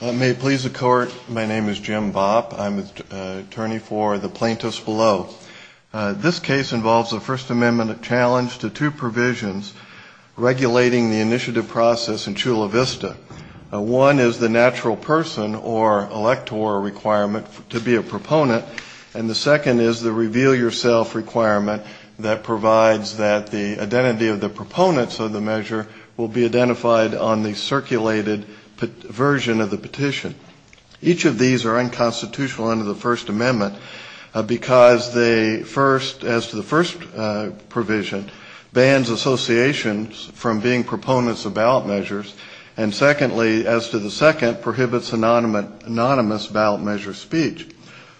May it please the Court, my name is Jim Bopp. I'm attorney for the plaintiffs below. This case involves a First Amendment challenge to two provisions regulating the initiative process in Chula Vista. One is the natural person or elector requirement to be a proponent, and the second is the reveal-yourself requirement that provides that the identity of the proponents of the measure will be identified on the circulated version of the petition. Each of these are unconstitutional under the First Amendment because they first, as to the first provision, bans associations from being proponents of ballot measures, and secondly, as to the second, prohibits anonymous ballot measure speech.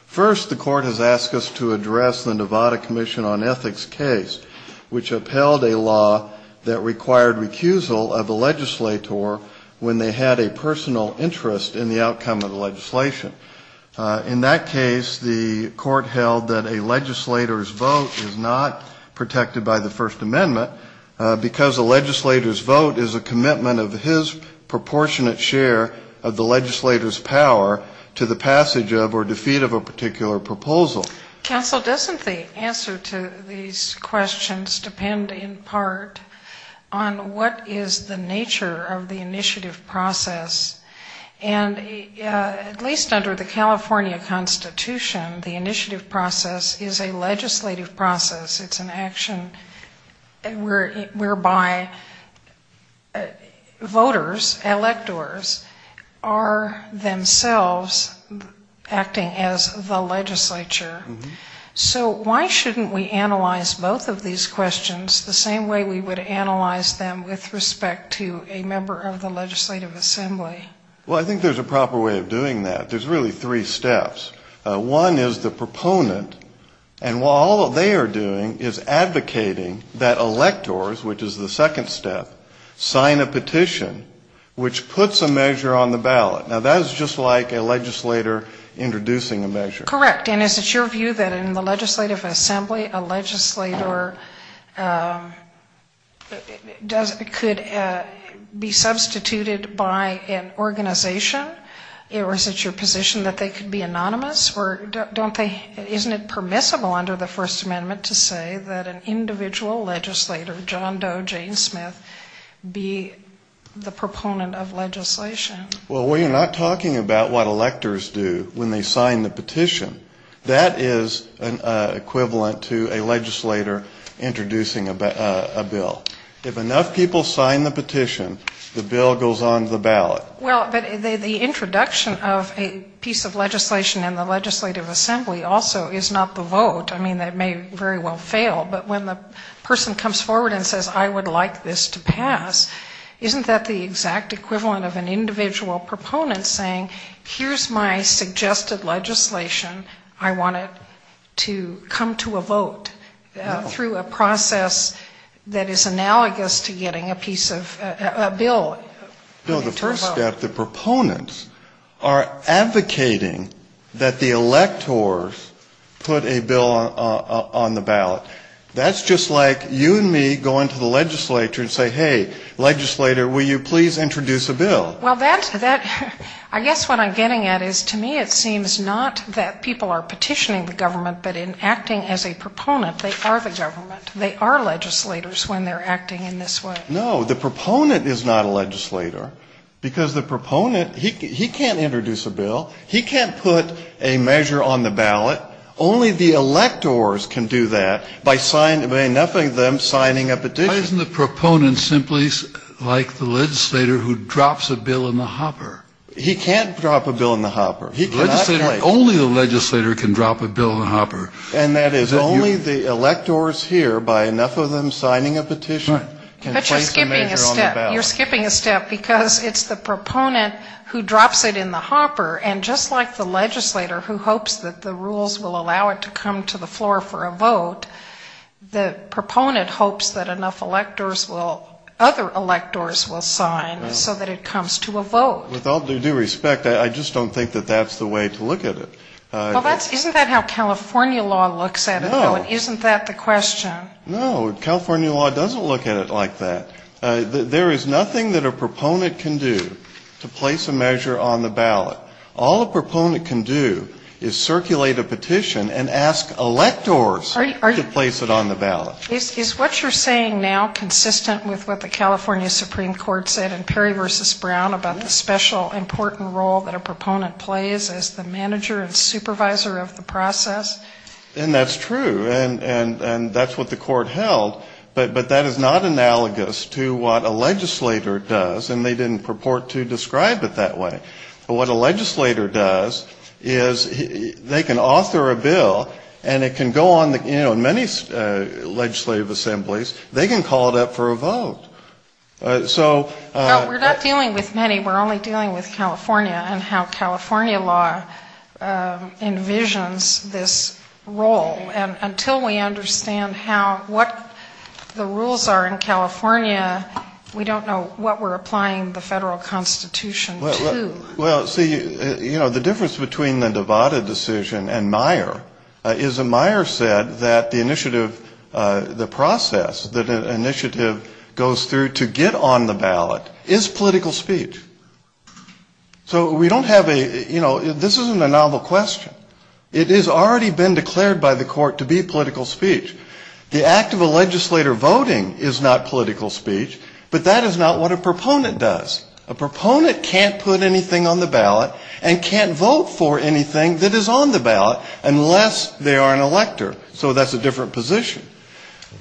First, the Court has asked us to address the Nevada Commission on Ethics case, which upheld a law that required recusal of a legislator when they had a personal interest in the outcome of the legislation. In that case, the Court held that a legislator's vote is not protected by the First Amendment because a legislator's vote is a commitment of his proportionate share of the legislator's power to the passage of or defeat of a particular proposal. Counsel, doesn't the answer to these questions depend in part on what is the nature of the initiative process? And at least under the California Constitution, the initiative process is a legislative process. It's an action whereby voters, electors, are themselves acting as the legislature. So why shouldn't we analyze both of these questions the same way we would analyze them with respect to a member of the legislative assembly? Well, I think there's a proper way of doing that. There's really three steps. One is the proponent. And all they are doing is advocating that electors, which is the second step, sign a petition, which puts a measure on the ballot. Now, that is just like a legislator introducing a measure. Correct. And is it your view that in the legislative assembly, a legislator could be substituted by an organization? Or is it your position that they could be anonymous? Or don't they, isn't it permissible under the First Amendment to say that an individual legislator, John Doe, Jane Smith, be the proponent of legislation? Well, we are not talking about what electors do when they sign the petition. That is equivalent to a legislator introducing a bill. If enough people sign the petition, the bill goes on to the ballot. Well, but the introduction of a piece of legislation in the legislative assembly also is not the vote. I mean, that may very well fail. But when the person comes forward and says, I would like this to pass, isn't that the exact equivalent of an individual proponent saying, here's my suggested legislation. I want it to come to a vote through a process that is analogous to getting a piece of a bill. No, the first step, the proponents are advocating that the electors put a bill on the ballot. That's just like you and me going to the legislature and saying, hey, legislator, will you please introduce a bill. Well, that, I guess what I'm getting at is to me it seems not that people are petitioning the government, but in acting as a proponent, they are the government. They are legislators when they're acting in this way. No, the proponent is not a legislator. Because the proponent, he can't introduce a bill. He can't put a measure on the ballot. Only the electors can do that by enough of them signing a petition. Why isn't the proponent simply like the legislator who drops a bill in the hopper? He can't drop a bill in the hopper. The legislator, only the legislator can drop a bill in the hopper. And that is only the electors here by enough of them signing a petition can place a measure on the ballot. But you're skipping a step. You're skipping a step because it's the proponent who drops it in the hopper, and just like the legislator who hopes that the rules will allow it to come to the floor for a vote, the proponent hopes that enough electors will, other electors will sign so that it comes to a vote. With all due respect, I just don't think that that's the way to look at it. Isn't that how California law looks at it? No. Isn't that the question? No. California law doesn't look at it like that. There is nothing that a proponent can do to place a measure on the ballot. All a proponent can do is circulate a petition and ask electors to place it on the ballot. Is what you're saying now consistent with what the California Supreme Court said in Perry v. Brown about the special important role that a proponent plays as the manager and supervisor of the process? And that's true. And that's what the court held. But that is not analogous to what a legislator does, and they didn't purport to describe it that way. But what a legislator does is they can author a bill, and it can go on, you know, in many legislative assemblies, they can call it up for a vote. So we're not dealing with many, we're only dealing with California and how California law envisions this role. And until we understand how, what the rules are in California, we don't know what we're applying the federal Constitution to. Well, see, you know, the difference between the Nevada decision and Meyer is that Meyer said that the initiative, the process that an initiative goes through to get on the ballot is political speech. So we don't have a, you know, this isn't a novel question. It has already been declared by the court to be political speech. The act of a legislator voting is not political speech, but that is not what a proponent does. A proponent can't put anything on the ballot and can't vote for anything that is on the ballot unless they are an elector. So that's a different position.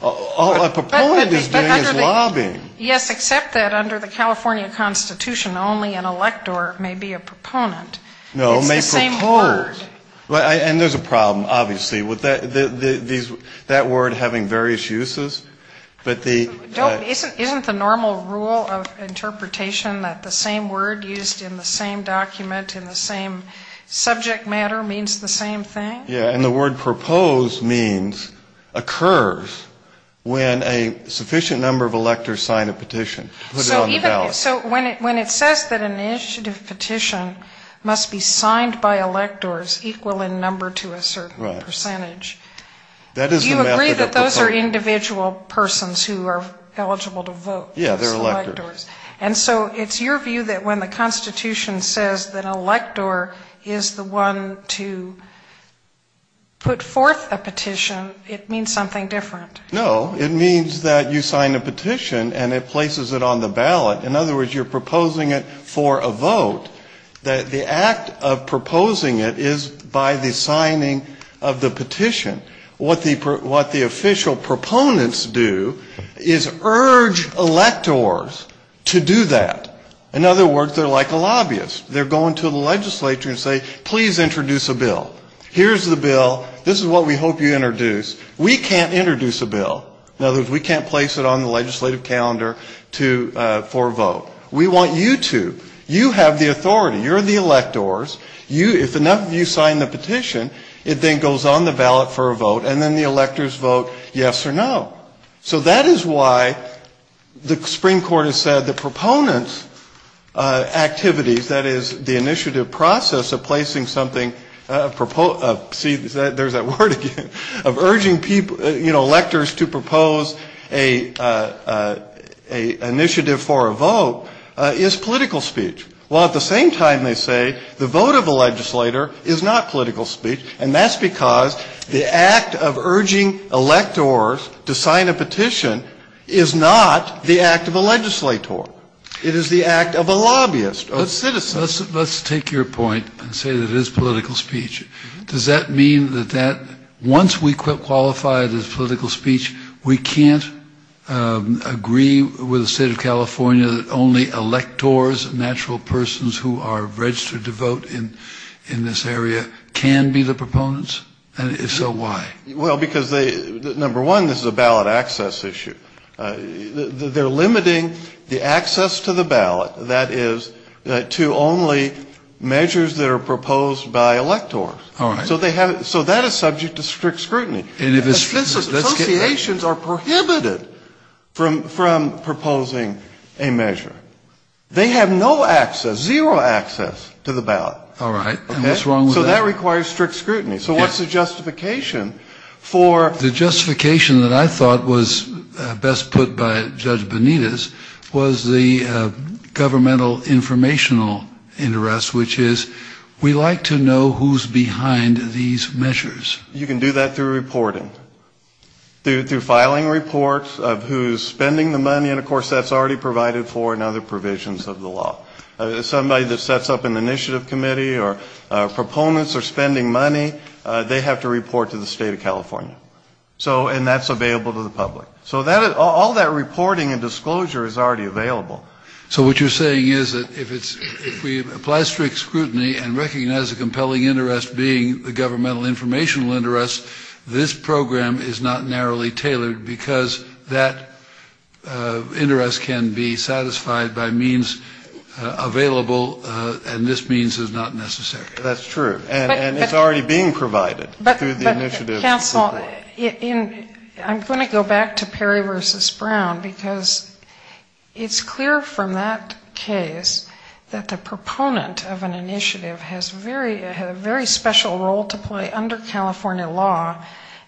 All a proponent is doing is lobbying. Yes, except that under the California Constitution, only an elector may be a proponent. No, may propose. And there's a problem, obviously, with that word having various uses. Isn't the normal rule of interpretation that the same word used in the same document in the same subject matter means the same thing? Yeah, and the word propose means occurs when a sufficient number of electors sign a petition, put it on the ballot. So when it says that an initiative petition must be signed by electors equal in number to a certain percentage, do you agree that those are individual, individual persons who are eligible to vote? Yeah, they're electors. And so it's your view that when the Constitution says that an elector is the one to put forth a petition, it means something different. No, it means that you sign a petition and it places it on the ballot. In other words, you're proposing it for a vote. The act of proposing it is by the signing of the petition. What the official proponents do is urge electors to do that. In other words, they're like a lobbyist. They're going to the legislature and say, please introduce a bill. Here's the bill, this is what we hope you introduce. We can't introduce a bill. In other words, we can't place it on the legislative calendar for a vote. We want you to. You have the authority. You're the electors. If enough of you sign the petition, it then goes on the ballot for a vote, and then the electors vote yes or no. So that is why the Supreme Court has said the proponents' activities, that is, the initiative process of placing something, see, there's that word again, of urging people, you know, electors to propose an initiative for a vote, is political speech. Well, at the same time, they say the vote of a legislator is not political speech. And that's because the act of urging electors to sign a petition is not the act of a legislator. It is the act of a lobbyist, a citizen. Let's take your point and say that it is political speech. Does that mean that once we qualify it as political speech, we can't agree with the state of California that only electors, natural persons who are registered to vote in this area, can be the proponents? And if so, why? Well, because, number one, this is a ballot access issue. They're limiting the access to the ballot, that is, to only measures that are proposed by electors. So that is subject to strict scrutiny. Associations are prohibited from proposing a measure. They have no access, zero access to the ballot. So that requires strict scrutiny. So what's the justification for... The justification that I thought was best put by Judge Benitez was the governmental informational interest, which is we like to know who's behind these measures. You can do that through reporting, through filing reports of who's spending the money. And of course, that's already provided for in other provisions of the law. Somebody that sets up an initiative committee or proponents are spending money, they have to report to the state of California. And that's available to the public. So all that reporting and disclosure is already available. So what you're saying is that if we apply strict scrutiny and recognize the compelling interest being the governmental informational interest, this program is not narrowly tailored, because that interest can be satisfied by means available, and this means is not necessary. That's true. And it's already being provided through the initiative. But counsel, I'm going to go back to Perry v. Brown, because it's clear from that case that the proponent of an initiative has a very special role to play under California law.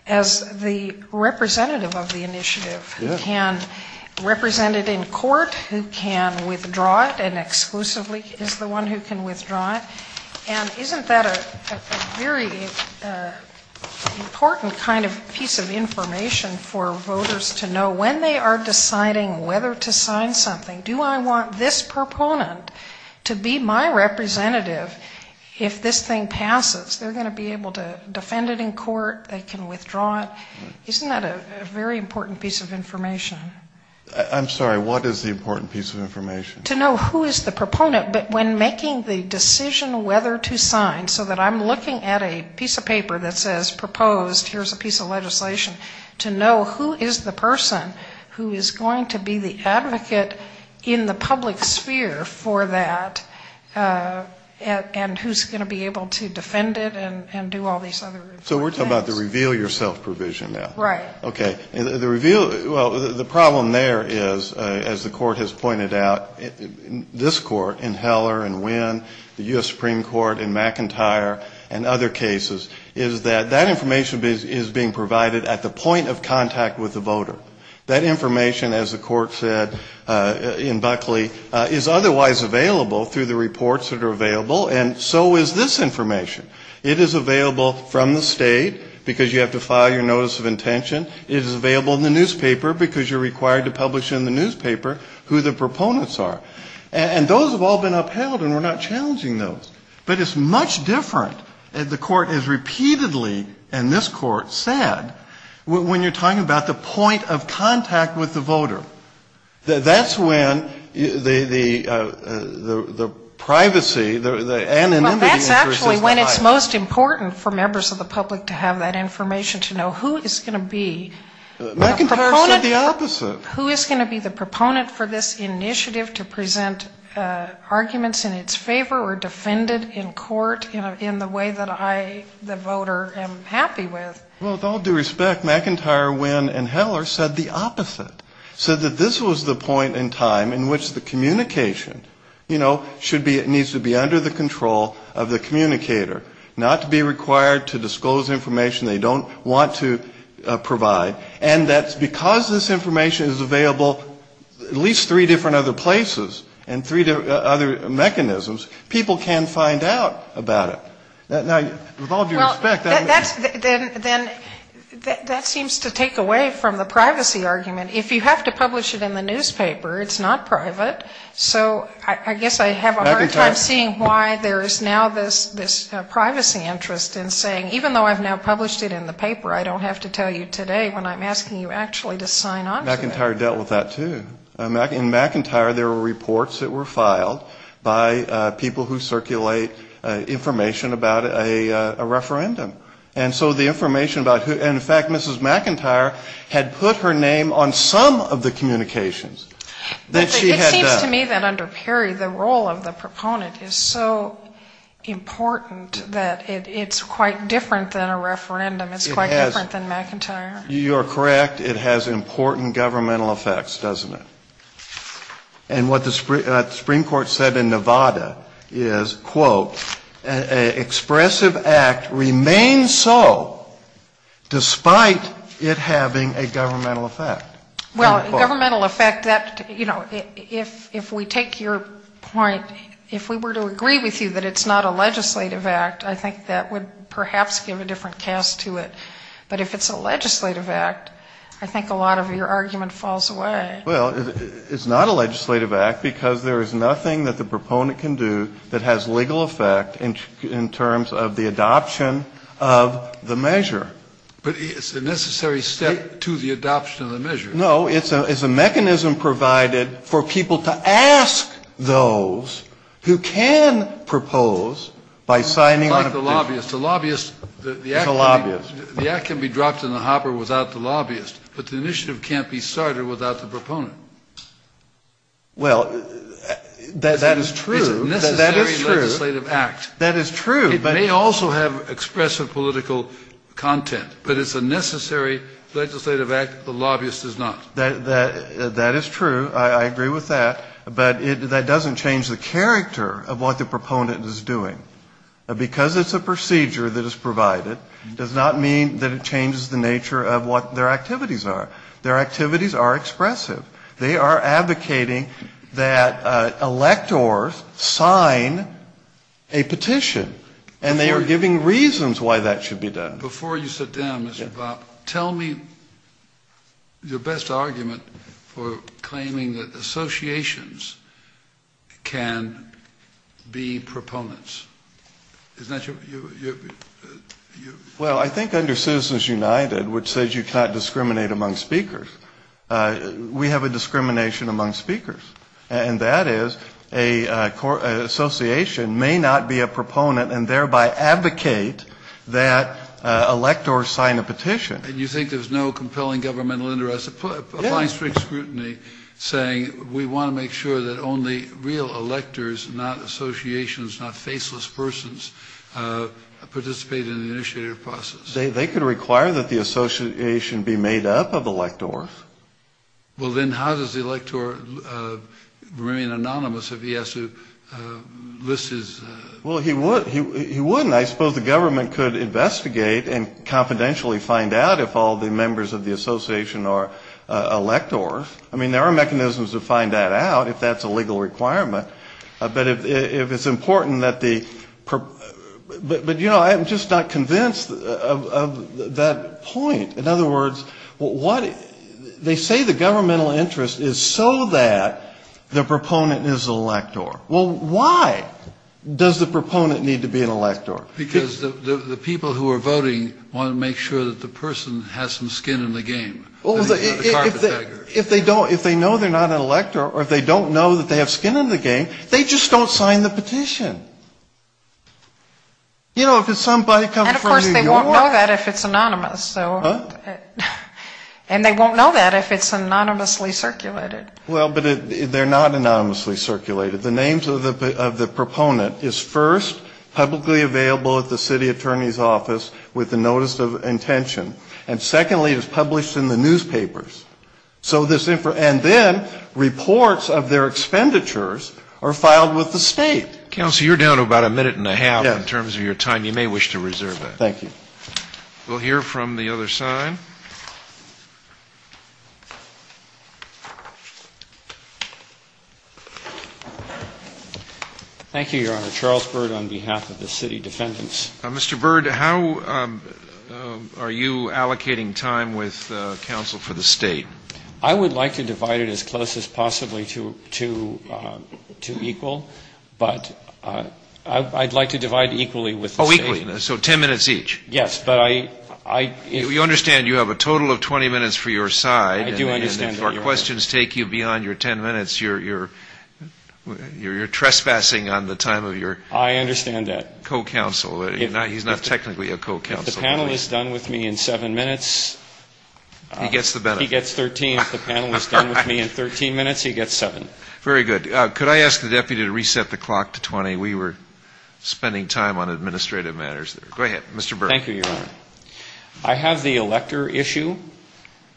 As the representative of the initiative, who can represent it in court, who can withdraw it, and exclusively is the one who can withdraw it. And isn't that a very important kind of piece of information for voters to know when they are deciding whether to sign something, do I want this proponent to be my representative if this thing passes? They're going to be able to defend it in court, they can withdraw it. Isn't that a very important piece of information? I'm sorry, what is the important piece of information? To know who is the proponent, but when making the decision whether to sign, so that I'm looking at a piece of paper that says proposed, here's a piece of legislation, to know who is the person who is going to be the advocate in the public sphere for that, and who's going to be able to defend it. So we're talking about the reveal yourself provision now? Right. Okay. The problem there is, as the court has pointed out, this court in Heller and Winn, the U.S. Supreme Court in McIntyre and other cases, is that that information is being provided at the point of contact with the voter. That information, as the court said in Buckley, is otherwise available through the reports that are available, and so is this information. It is available from the state, because you have to file your notice of intention. It is available in the newspaper, because you're required to publish in the newspaper who the proponents are. And those have all been upheld, and we're not challenging those. But it's much different, as the court has repeatedly, and this court, said, when you're talking about the point of contact with the voter. That's when the privacy, the anonymity interest is high. It's just important for members of the public to have that information to know who is going to be the proponent. McIntyre said the opposite. Who is going to be the proponent for this initiative to present arguments in its favor or defend it in court in the way that I, the voter, am happy with. Well, with all due respect, McIntyre, Winn and Heller said the opposite. Said that this was the point in time in which the communication, you know, should be, needs to be under the control of the communicator. Not to be required to disclose information they don't want to provide. And that's because this information is available at least three different other places, and three other mechanisms, people can find out about it. Now, with all due respect, that's... Then that seems to take away from the privacy argument. If you have to publish it in the newspaper, it's not private. So I guess I have a hard time seeing why there is now this privacy interest in saying, even though I've now published it in the paper, I don't have to tell you today when I'm asking you actually to sign on to it. McIntyre dealt with that, too. In McIntyre, there were reports that were filed by people who circulate information about a referendum. And so the information about who, in fact, Mrs. McIntyre had put her name on some of the communications that she had done. It seems to me that under Perry, the role of the proponent is so important that it's quite different than a referendum. It's quite different than McIntyre. You are correct. It has important governmental effects, doesn't it? And what the Supreme Court said in Nevada is, quote, an expressive act remains so, despite it having a governmental effect. Well, governmental effect, you know, if we take your point, if we were to agree with you that it's not a legislative act, I think that would perhaps give a different cast to it. But if it's a legislative act, I think a lot of your argument falls away. Well, it's not a legislative act because there is nothing that the proponent can do that has legal effect in terms of the adoption of the measure. But it's a necessary step to the adoption of the measure. No, it's a mechanism provided for people to ask those who can propose by signing on a petition. Like the lobbyist. The lobbyist, the act can be dropped in the hopper without the lobbyist, but the initiative can't be started without the proponent. Well, that is true. It's a necessary legislative act. That is true. It may also have expressive political content, but it's a necessary legislative act. The lobbyist does not. That is true. I agree with that. But that doesn't change the character of what the proponent is doing. Because it's a procedure that is provided does not mean that it changes the nature of what their activities are. Their activities are expressive. They are advocating that electors sign a petition. And they are giving reasons why that should be done. Before you sit down, Mr. Bopp, tell me your best argument for claiming that associations can be proponents. Isn't that your... We have a discrimination among speakers, and that is an association may not be a proponent and thereby advocate that electors sign a petition. And you think there's no compelling governmental interest, applying strict scrutiny, saying we want to make sure that only real electors, not associations, not faceless persons, participate in the initiative process. They could require that the association be made up of electors. Well, then how does the elector remain anonymous if he has to list his... Well, he wouldn't. I suppose the government could investigate and confidentially find out if all the members of the association are electors. I mean, there are mechanisms to find that out, if that's a legal requirement. But if it's important that the... But, you know, I'm just not convinced of that point. In other words, they say the governmental interest is so that the proponent is an elector. Well, why does the proponent need to be an elector? Because the people who are voting want to make sure that the person has some skin in the game. Well, if they don't, if they know they're not an elector or if they don't know that they have skin in the game, they just don't sign the petition. You know, if it's somebody coming from the U.S. And of course they won't know that if it's anonymous. And they won't know that if it's anonymously circulated. Well, but they're not anonymously circulated. The names of the proponent is first publicly available at the city attorney's office with the notice of intention. And secondly, it's published in the newspapers. And then reports of their expenditures are filed with the state. Counsel, you're down to about a minute and a half in terms of your time. You may wish to reserve that. Thank you. We'll hear from the other side. Thank you, Your Honor. Charles Bird on behalf of the city defendants. Mr. Bird, how are you allocating time with counsel for the state? I would like to divide it as close as possibly to equal. But I'd like to divide equally with the state. Oh, equally, so ten minutes each. Yes, but I do understand that you have a total of 20 minutes for your side. And if our questions take you beyond your ten minutes, you're trespassing on the time of your co-counsel. He's not technically a co-counsel. If the panel is done with me in seven minutes, he gets 13. If the panel is done with me in 13 minutes, he gets seven. Very good. Could I ask the deputy to reset the clock to 20? We were spending time on administrative matters there. Go ahead, Mr. Bird. Thank you, Your Honor. I have the elector issue.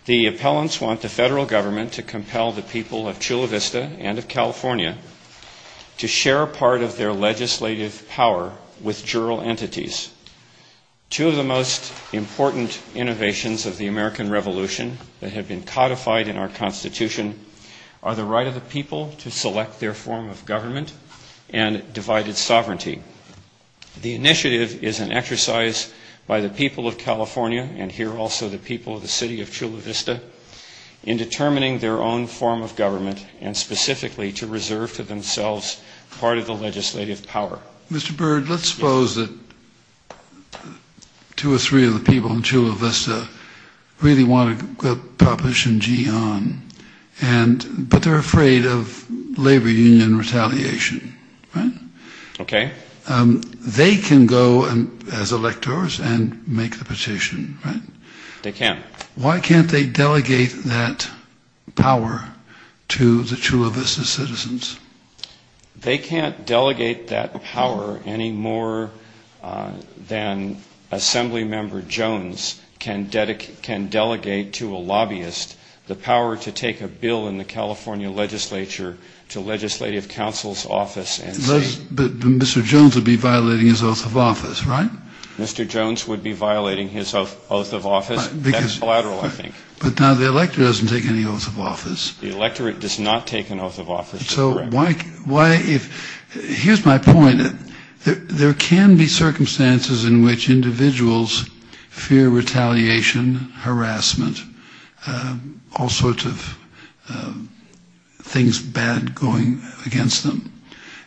The appellants want the federal government to compel the people of Chula Vista and of California to share part of their legislative power with the people of California and here also the people of the city of Chula Vista in determining their own form of government and specifically to reserve to themselves part of the legislative power. Mr. Bird, let's suppose that two or three of the people in Chula Vista really want to publish in GEON, but they're afraid of labor union retaliation, right? They can go as electors and make the petition, right? They can. Why can't they delegate that power to the Chula Vista citizens? They can't delegate that power any more than Assemblymember Jones can delegate to a lobbyist the power to take a bill in the California legislature to legislative council's office and say... Mr. Jones would be violating his oath of office, right? Mr. Jones would be violating his oath of office. That's collateral, I think. But now the elector doesn't take any oath of office. The electorate does not take an oath of office. So here's my point. There can be circumstances in which individuals fear retaliation, harassment, all sorts of things bad going against them,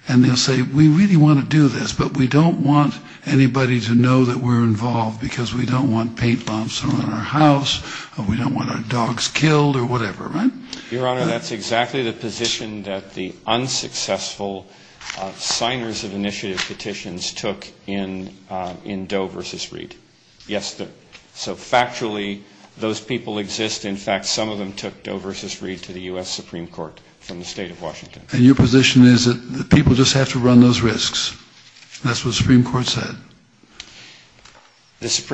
and they'll say, we really want to do this, but we don't want anybody to know that we're involved because we don't want paint bombs thrown on our house or we don't want our dogs killed or whatever, right? Your Honor, that's exactly the position that the unsuccessful signers of initiative petitions took in Doe v. Reed. Yes, so factually those people exist. In fact, some of them took Doe v. Reed to the U.S. Supreme Court from the state of Washington. And your position is that people just have to run those risks? That's what the Supreme Court said?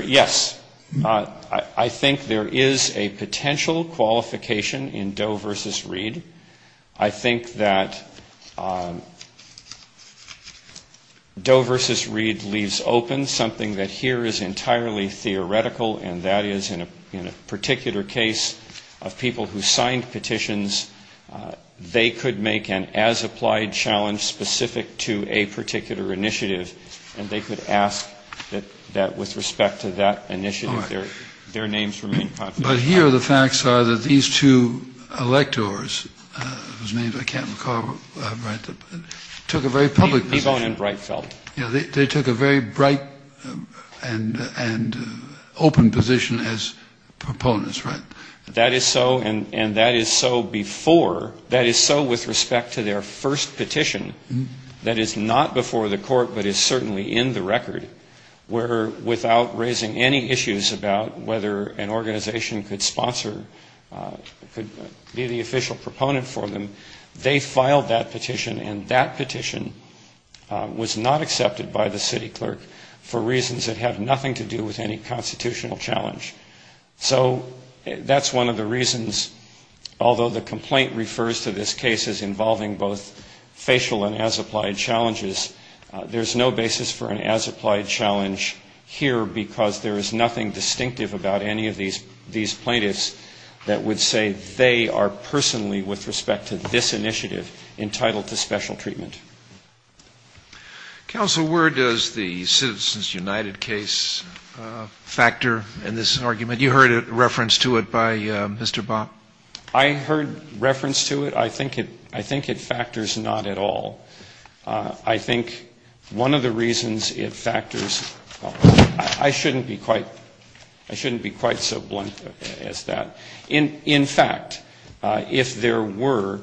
Yes. I think there is a potential qualification in Doe v. Reed. I think that Doe v. Reed leaves open something that here is entirely theoretical, and that is in a particular case of people who signed petitions, they could make an as-applied challenge specific to a particular initiative, and they could ask the Supreme Court to do that. But here the facts are that these two electors, it was named, I can't recall, right, took a very public position. They took a very bright and open position as proponents, right? That is so, and that is so before, that is so with respect to their first petition, that is not before the court, but is certainly in the record. Where without raising any issues about whether an organization could sponsor, could be the official proponent for them, they filed that petition, and that petition was not accepted by the city clerk for reasons that have nothing to do with any constitutional challenge. So that's one of the reasons, although the complaint refers to this case as involving both facial and as-applied challenges, there's no basis for an as-applied challenge. Here, because there is nothing distinctive about any of these plaintiffs that would say they are personally, with respect to this initiative, entitled to special treatment. Scalia. Counsel, where does the Citizens United case factor in this argument? You heard a reference to it by Mr. Bopp. Bopp. I heard reference to it. I think it factors not at all. I think one of the reasons it factors in this case is because it's a case where the plaintiff is not the plaintiff. I shouldn't be quite so blunt as that. In fact, if there were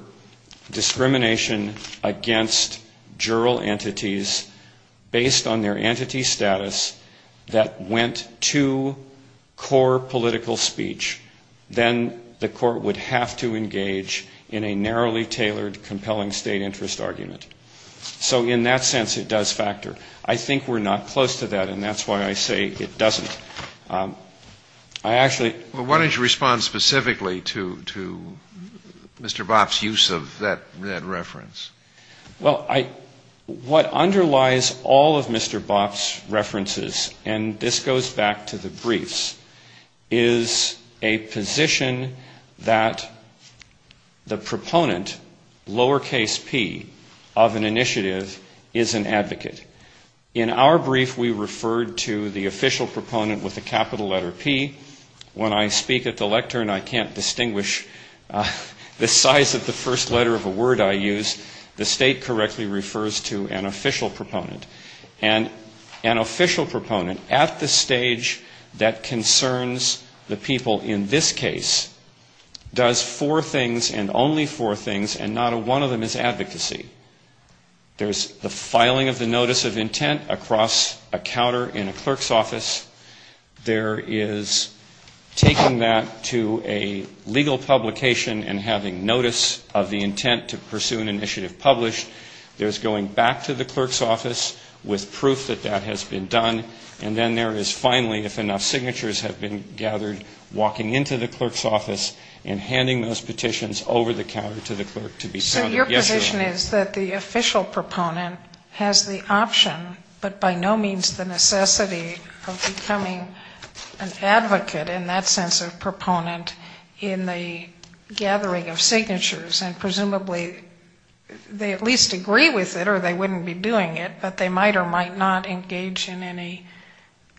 discrimination against juror entities based on their entity status that went to core political speech, then the court would have to engage in a narrowly tailored compelling state interest argument. So in that sense, it does factor. I think we're not close to that, and that's why I say it doesn't. I actually... Scalia. Well, why don't you respond specifically to Mr. Bopp's use of that reference? Bopp. Well, what underlies all of Mr. Bopp's references, and this goes back to the briefs, is a position that the proponent, lowercase p, of the case, of an initiative, is an advocate. In our brief, we referred to the official proponent with a capital letter P. When I speak at the lectern, I can't distinguish the size of the first letter of a word I use. The state correctly refers to an official proponent. And an official proponent, at the stage that concerns the people in this case, does four things, and only four things, and not one of them is advocacy. There's the filing of the notice of intent across a counter in a clerk's office. There is taking that to a legal publication and having notice of the intent to pursue an initiative published. There's going back to the clerk's office with proof that that has been done, and then there is finally, if enough signatures have been gathered, walking into the clerk's office and handing those petitions over the counter to the clerk to be sounded. But your position is that the official proponent has the option, but by no means the necessity of becoming an advocate in that sense of proponent, in the gathering of signatures, and presumably they at least agree with it or they wouldn't be doing it, but they might or might not engage in any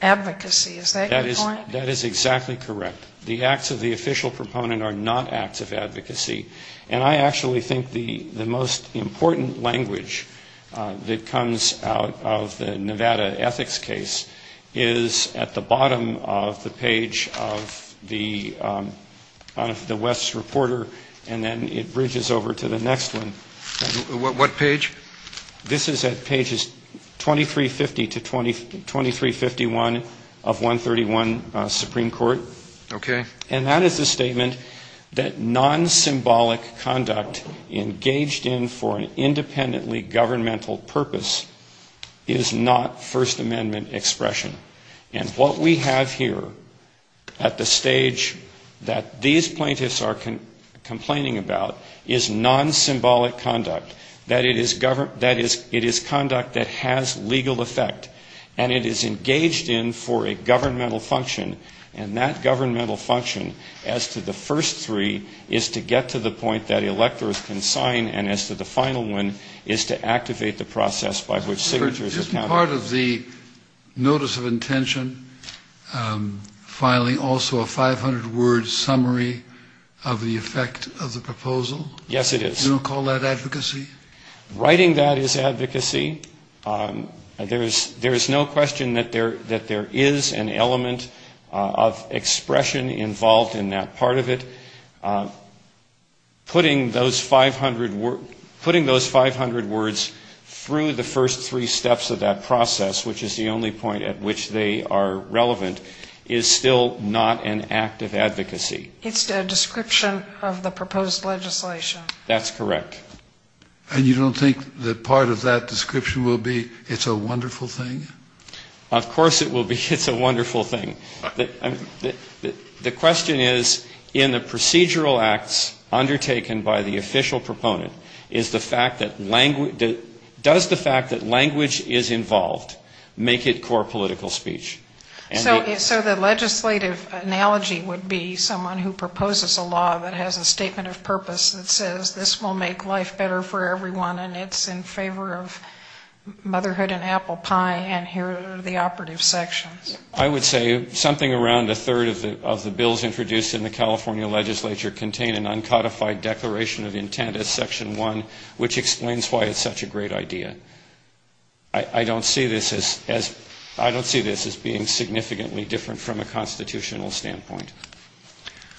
advocacy. Is that your point? That is exactly correct. The acts of the official proponent are not acts of advocacy. And I actually think the most important language that comes out of the Nevada ethics case is at the bottom of the page of the West's reporter, and then it bridges over to the next one. What page? This is at pages 2350 to 2351 of 131 Supreme Court. Okay. And that is a statement that non-symbolic conduct engaged in for an independently governmental purpose is not First Amendment expression. And what we have here at the stage that these plaintiffs are complaining about is non-symbolic conduct, that it is governmental conduct, that it is conduct that has legal effect, and it is engaged in for a governmental function. And that governmental function as to the first three is to get to the point that electors can sign, and as to the final one is to activate the process by which signatures are counted. Just part of the notice of intention, finally, also a 500-word summary of the effect of the proposal. Yes, it is. Do you call that advocacy? Writing that is advocacy. There is no question that there is an element of expression involved in that part of it. Putting those 500 words through the first three steps of that process, which is the only point at which they are relevant, is still not an act of advocacy. That's correct. And you don't think that part of that description will be, it's a wonderful thing? Of course it will be, it's a wonderful thing. The question is, in the procedural acts undertaken by the official proponent, is the fact that language, does the fact that language is involved make it core political speech? So the legislative analogy would be someone who proposes a law that has a statement of purpose that says this will make life better for everyone, and it's in favor of motherhood and apple pie, and here are the operative sections. I would say something around a third of the bills introduced in the California legislature contain an uncodified declaration of intent as Section 1, which explains why it's such a great idea. I don't see this as being significantly different from a constitutional standpoint.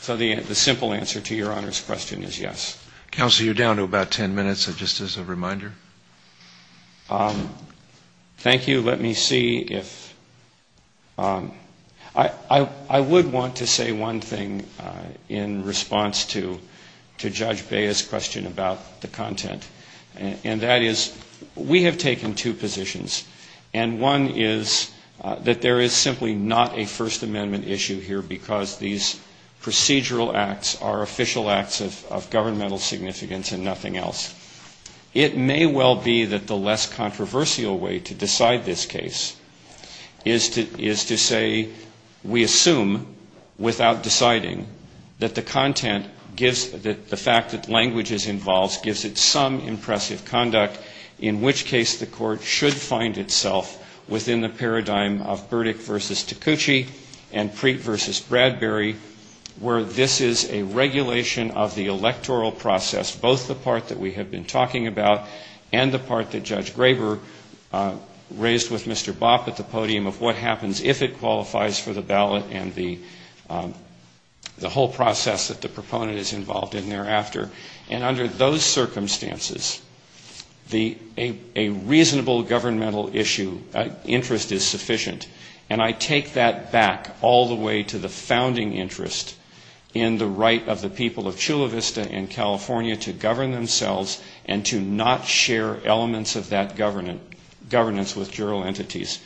So the simple answer to Your Honor's question is yes. Counsel, you're down to about 10 minutes, just as a reminder. Thank you. Let me see if, I would want to say one thing in response to Judge Bea's question about the content. And that is, we have taken two positions. And one is that there is simply not a First Amendment issue here, because these procedural acts are official acts of governmental significance and nothing else. It may well be that the less controversial way to decide this case is to say, we assume, without deciding, that the content gives, that the fact that language is involved, gives it some impressive conduct, in which case the court should find itself within the paradigm of Burdick v. Taccucci and Preet v. Bradbury, where this is a regulation of the electoral process, both the part that we have been talking about and the part that Judge Graber raised with Mr. Bopp at the podium of what happens if it qualifies for the ballot and the whole process that the proponent is involved in thereafter. And under those circumstances, the, a reasonable governmental issue, interest is sufficient. And I take that back all the way to the founding interest in the right of the people of Chula Vista and California to govern themselves and to not share elements of that governance with juror entities.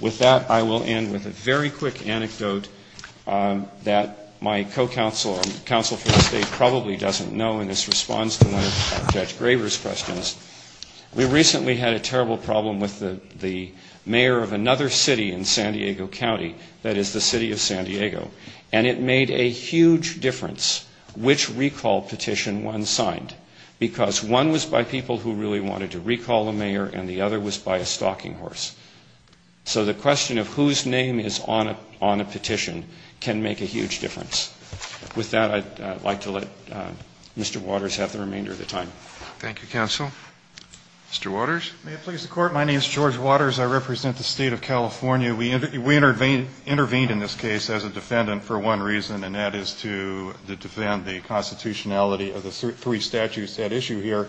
With that, I will end with a very quick anecdote that my co-counsel or counsel from the state probably doesn't know, and that is, the mayor of another city in San Diego County, that is the city of San Diego, and it made a huge difference which recall petition one signed, because one was by people who really wanted to recall a mayor and the other was by a stalking horse. So the question of whose name is on a petition can make a huge difference. With that, I would like to let Mr. Waters have the remainder of the time. Thank you, counsel. Mr. Waters. May it please the Court. My name is George Waters. I represent the State of California. We intervened in this case as a defendant for one reason, and that is to defend the constitutionality of the three statutes at issue here.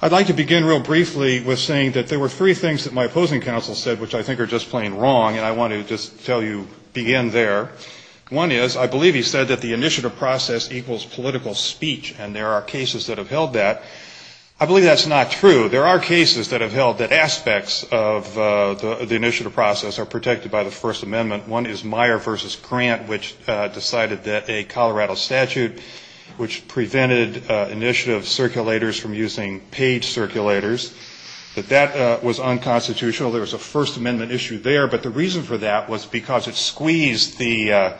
I'd like to begin real briefly with saying that there were three things that my opposing counsel said which I think are just plain wrong, and I want to just tell you, to begin there. One is, I believe he said that the initiative process equals political speech, and there are cases that have held that. I believe that's not true. There are cases that have held that aspects of the initiative process are protected by the First Amendment. One is Meyer v. Grant, which decided that a Colorado statute which prevented initiative circulators from using paid circulators, that that was unconstitutional. There was a First Amendment issue there, but the reason for that was because it squeezed the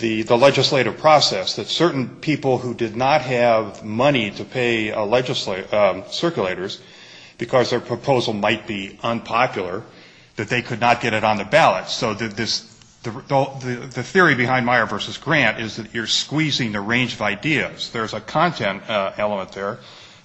legislative process, that certain people who did not have money to pay circulators, because their proposal might be unpopular, that they could not get it on the ballot. So the theory behind Meyer v. Grant is that you're squeezing the range of ideas. There's a content element there.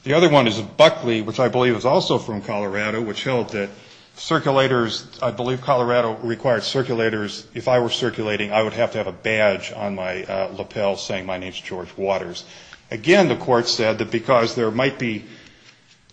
The other one is Buckley, which I believe is also from Colorado, which held that circulators, I believe Colorado required circulators, if I were circulating, I would have to have a badge on my lapel saying my name is George Waters. Again, the Court said that because there might be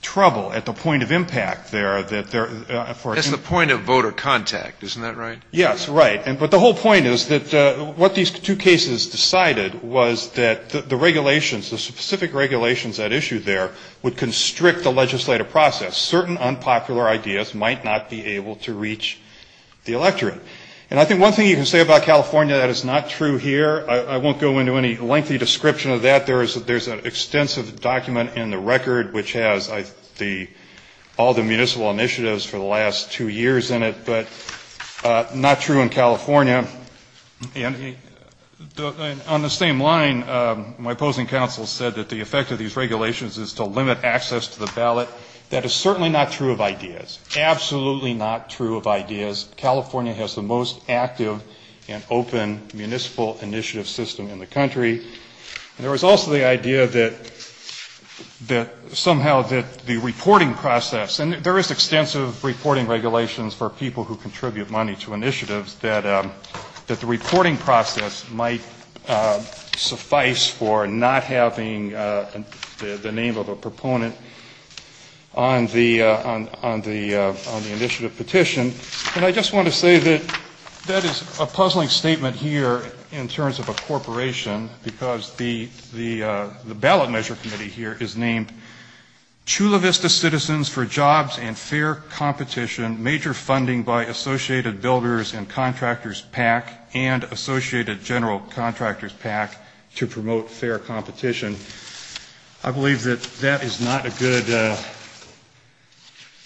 trouble at the point of impact there, that there, for example the point of voter contact, isn't that right? Yes, right. But the whole point is that what these two cases decided was that the regulations, the specific regulations that issued there would constrict the legislative process. Certain unpopular ideas might not be able to reach the electorate. And I think one thing you can say about California that is not true here. I won't go into any lengthy description of that. There's an extensive document in the record which has all the municipal initiatives for the last two years in it, but none of that is true. It's not true in California. And on the same line, my opposing counsel said that the effect of these regulations is to limit access to the ballot. That is certainly not true of ideas. Absolutely not true of ideas. California has the most active and open municipal initiative system in the country. There was also the idea that somehow that the reporting process, and there is extensive reporting regulations for people who contribute money to initiatives, that the reporting process might suffice for not having the name of a proponent on the initiative petition. And I just want to say that that is a puzzling statement here in terms of a corporation, because the ballot measure committee here is named Chula Vista Citizens for Jobs and Contractors PAC and Associated General Contractors PAC to promote fair competition. I believe that that is not a good,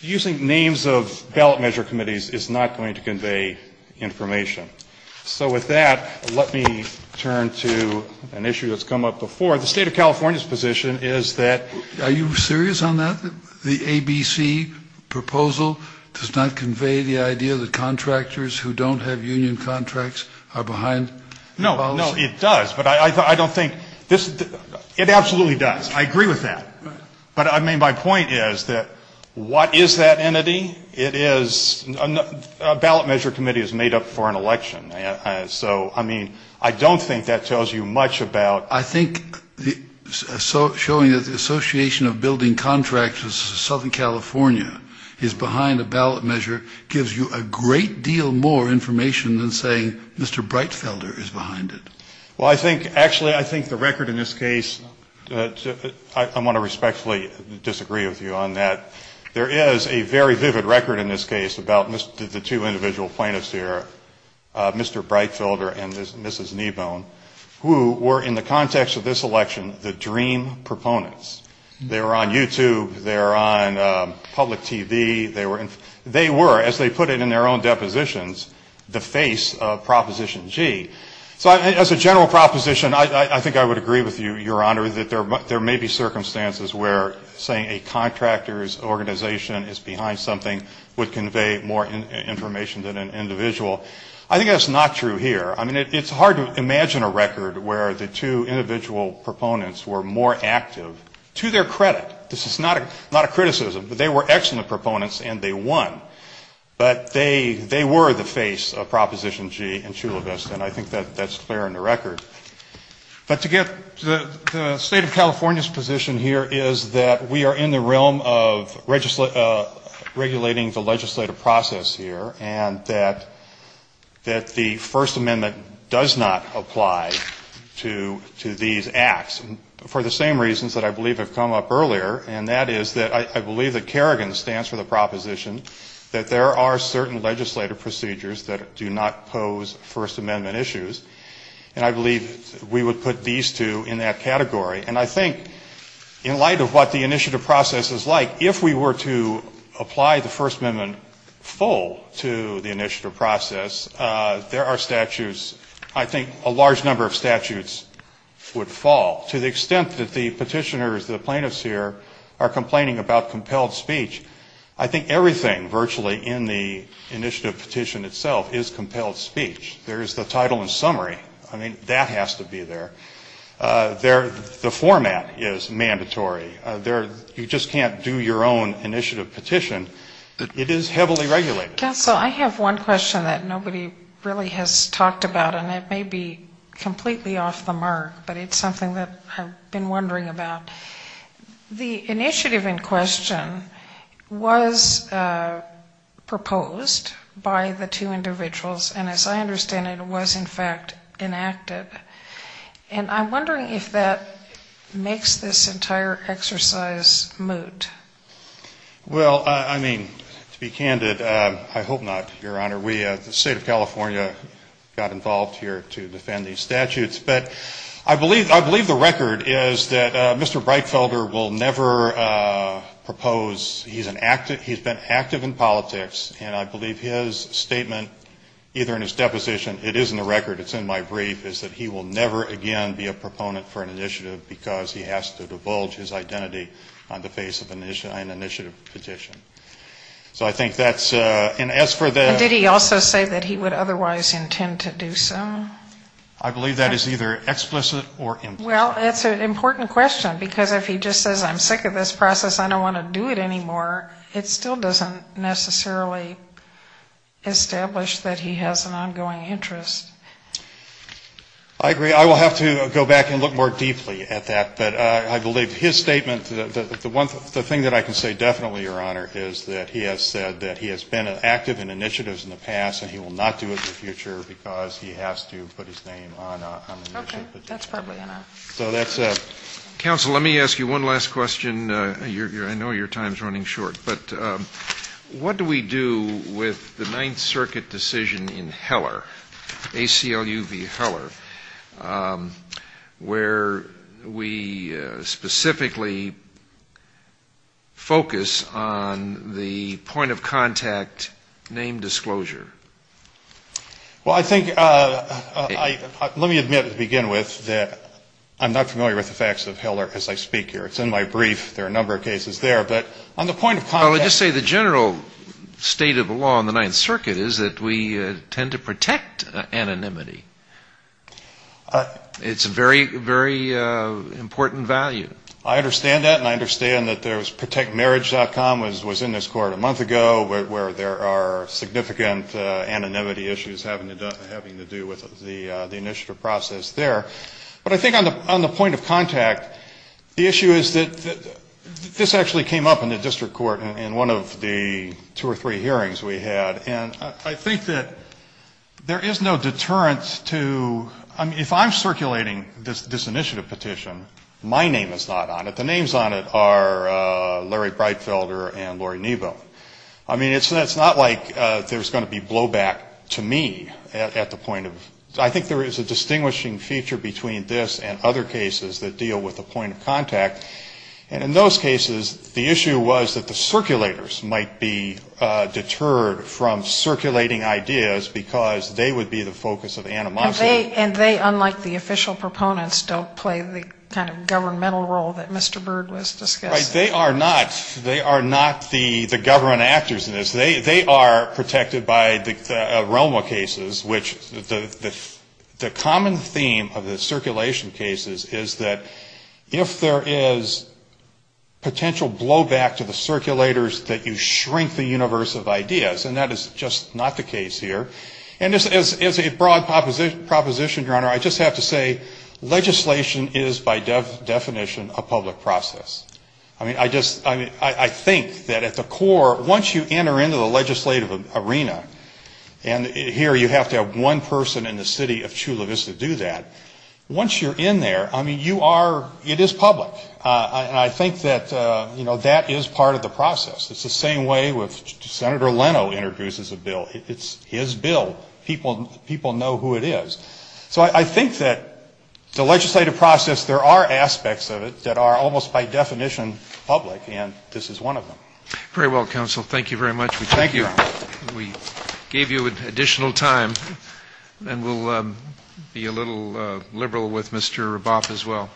using names of ballot measure committees is not going to convey information. So with that, let me turn to an issue that's come up before. The state of California's position is that... Are you serious on that? The ABC proposal does not convey the idea that contractors who don't have a ballot measure committee can have union contracts are behind the policy? No, no, it does. But I don't think... It absolutely does. I agree with that. But, I mean, my point is that what is that entity? A ballot measure committee is made up for an election. So, I mean, I don't think that tells you much about... I think showing that the Association of Building Contractors of Southern California is behind a ballot measure gives you a great deal more information than saying Mr. Breitfelder is behind it. Well, I think, actually, I think the record in this case... I want to respectfully disagree with you on that. There is a very vivid record in this case about the two individual plaintiffs here, Mr. Breitfelder and Mrs. Kneebone, who were, in the context of this election, the dream proponents. They were on YouTube. They were on public TV. They were, as they put it in their own depositions, the dream proponents. They were the face of Proposition G. So as a general proposition, I think I would agree with you, Your Honor, that there may be circumstances where saying a contractor's organization is behind something would convey more information than an individual. I think that's not true here. I mean, it's hard to imagine a record where the two individual proponents were more active, to their credit. This is not a criticism. They were excellent proponents, and they won. But they were the face of Proposition G in Chula Vista, and I think that's clear in the record. But to get to the State of California's position here is that we are in the realm of regulating the legislative process here, and that the First Amendment does not apply to these acts, for the same reasons that I believe have come up earlier, and that is that I believe that Kerrigan stands for the proposition that there are certain legislative procedures that do not pose First Amendment issues, and I believe we would put these two in that category. And I think, in light of what the initiative process is like, if we were to apply the First Amendment full to the initiative process, there are statutes, I think a large number of statutes would fall, to the extent that the initiative petition itself is compelled speech. There's the title and summary. I mean, that has to be there. The format is mandatory. You just can't do your own initiative petition. It is heavily regulated. Dr. Terri Manolio Council, I have one question that nobody really has talked about, and it may be completely off the mark, but it's something that I've been thinking about. The First Amendment was proposed by the two individuals, and as I understand it, it was in fact enacted. And I'm wondering if that makes this entire exercise moot. Well, I mean, to be candid, I hope not, Your Honor. The State of California got involved here to defend these statutes, but I believe the record is that Mr. Breitfelder will never propose, he's been active in politics, and I believe his statement, either in his deposition, it is in the record, it's in my brief, is that he will never again be a proponent for an initiative because he has to divulge his identity on the face of an initiative petition. So I think that's, and as for the And did he also say that he would otherwise intend to do so? I believe that is either explicit or implicit. Well, it's an important question, because if he just says I'm sick of this process, I don't want to do it anymore, it still doesn't necessarily establish that he has an ongoing interest. I agree. I will have to go back and look more deeply at that. But I believe his statement, the one thing that I can say definitely, Your Honor, is that he has said that he has been active in initiatives in the past and he will not do it in the future because he has to be able to put his name on an initiative petition. Okay. That's probably enough. Counsel, let me ask you one last question. I know your time is running short, but what do we do with the Ninth Circuit decision in Heller, ACLU v. Heller, where we specifically focus on the point of contact name disclosure? Well, I think, let me admit to begin with that I'm not familiar with the facts of Heller as I speak here. It's in my brief. There are a number of cases there, but on the point of contact... Well, I'll just say the general state of the law in the Ninth Circuit is that we tend to protect anonymity. It's a very, very important value. I understand that, and I understand that there was protectmarriage.com was in this court a month ago, where there are significant anonymity issues having to do with the initiative process there. But I think on the point of contact, the issue is that this actually came up in the district court in one of the two or three hearings we had, and I think that there is no deterrent to, I mean, if I'm circulating this initiative petition, my name is not on it. The names on it are Larry Breitfelder and Lori Nebo. I mean, it's not like there's going to be blowback to me at the point of... I think there is a distinguishing feature between this and other cases that deal with the point of contact, and in those cases, the issue was that the circulators might be deterred from circulating ideas because they would be the focus of anonymity. And they, unlike the official proponents, don't play the kind of governmental role that Mr. Byrd was discussing. They are not the government actors in this. They are protected by the ROMA cases, which the common theme of the circulation cases is that if there is potential blowback to the circulators, that you shrink the universe of ideas, and that is just not the case here. And as a broad proposition, Your Honor, I just have to say, legislation is by definition a public process. I mean, I just, I think that at the core, once you enter into the legislative arena, and here you have to have one person in the city of Chula Vista do that, once you're in there, I mean, you are, it is public, and I think that, you know, that is part of the process. It's the same way with Senator Leno introduces a bill. It's his bill. People know who it is. So I think that the legislative process, there are aspects of it that are almost by definition public, and this is one of them. Very well, counsel, thank you very much. We thank you. We gave you additional time, and we'll be a little liberal with Mr. Raboff as well.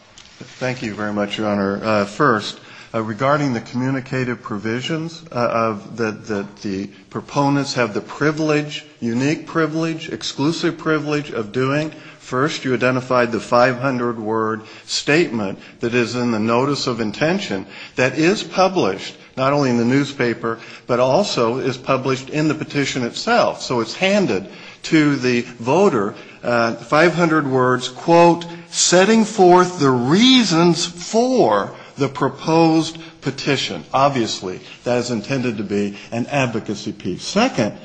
First, regarding the communicative provisions that the proponents have the privilege, unique privilege, exclusive privilege of doing, first you identified the 500-word statement that is in the notice of intention that is published, not only in the newspaper, but also is published in the petition itself. So it's handed to the voter, 500 words, quote, setting forth the reasons for the petition. Obviously that is intended to be an advocacy piece. Second,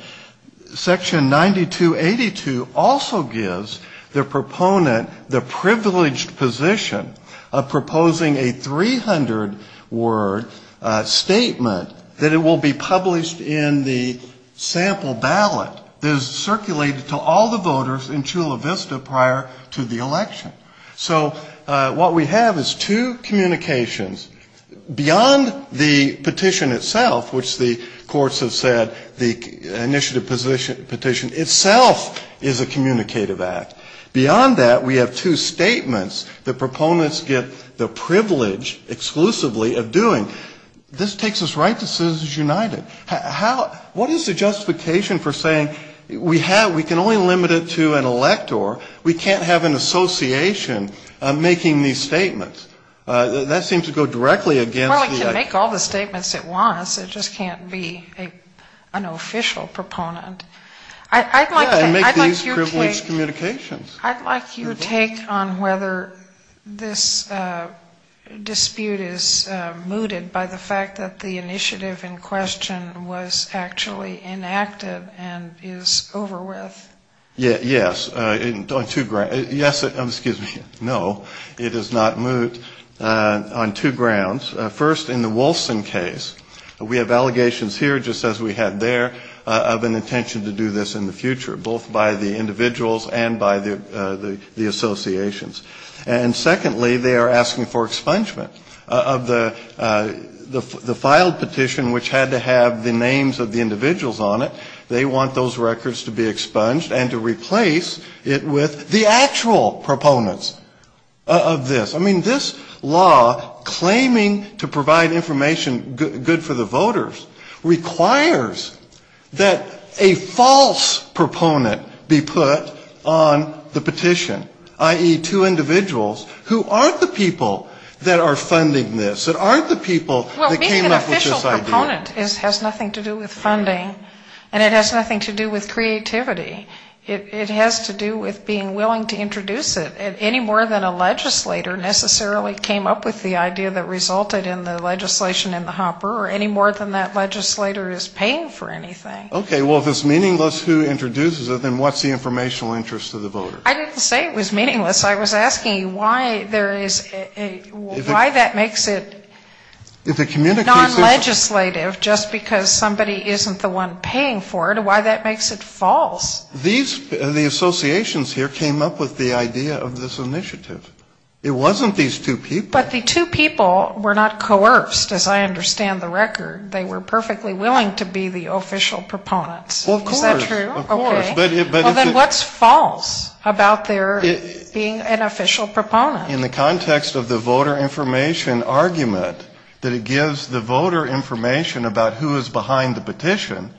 section 9282 also gives the proponent the privileged position of proposing a 300-word statement that it will be published in the sample ballot that is circulated to all the voters in Chula Vista prior to the election. So what we have is two communications. Beyond the petition itself, which the courts have said the initiative petition itself is a communicative act, beyond that we have two statements that proponents get the privilege exclusively of doing. This takes us right to Citizens United. What is the justification for saying we can only limit it to an elector, we can't have an association making these statements? That seems to go directly against the... Well, it can make all the statements it wants, it just can't be an official proponent. I'd like to make these privileged communications. I'd like your take on whether this dispute is mooted by the fact that the initiative in question is a communicative act. The petition was actually inactive and is over with. Yes. On two grounds. Yes, excuse me, no, it is not moot on two grounds. First, in the Wolfson case, we have allegations here, just as we had there, of an intention to do this in the future, both by the individuals and by the associations. And secondly, they are asking for expungement of the filed petition, which had to have the names of the individuals on it. They want those records to be expunged and to replace it with the actual proponents of this. I mean, this law, claiming to provide information good for the voters, requires that a false proponent be put on the petition, i.e., two other proponents. So it's two individuals who aren't the people that are funding this, that aren't the people that came up with this idea. Well, being an official proponent has nothing to do with funding, and it has nothing to do with creativity. It has to do with being willing to introduce it, any more than a legislator necessarily came up with the idea that resulted in the legislation in the hopper, or any more than that legislator is paying for anything. Okay, well, if it's meaningless who introduces it, then what's the informational interest of the voters? I didn't say it was meaningless. I was asking why there is a, why that makes it non-legislative, just because somebody isn't the one paying for it, why that makes it false. These, the associations here came up with the idea of this initiative. It wasn't these two people. But the two people were not coerced, as I understand the record. They were perfectly willing to be the official proponents. Is that true? Well, of course, of course. Well, then what's false about their being an official proponent? In the context of the voter information argument that it gives the voter information about who is behind the petition,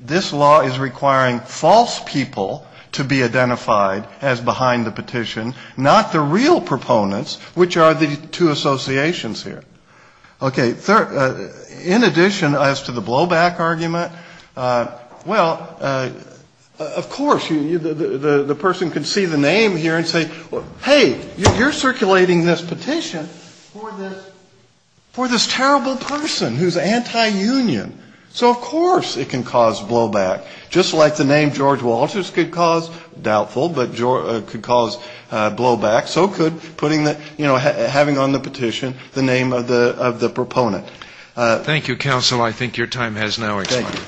this law is requiring false people to be identified as behind the petition, not the real proponents, which are the two associations here. Okay, in addition as to the blowback argument, well, of course, the person can see the name here and say, hey, you're circulating this petition for this terrible person who's anti-union. So of course it can cause blowback, just like the name George Walters could cause doubtful, but could cause blowback. So could putting the, you know, having on the petition the name of the proponent. Thank you, counsel. I think your time has now expired.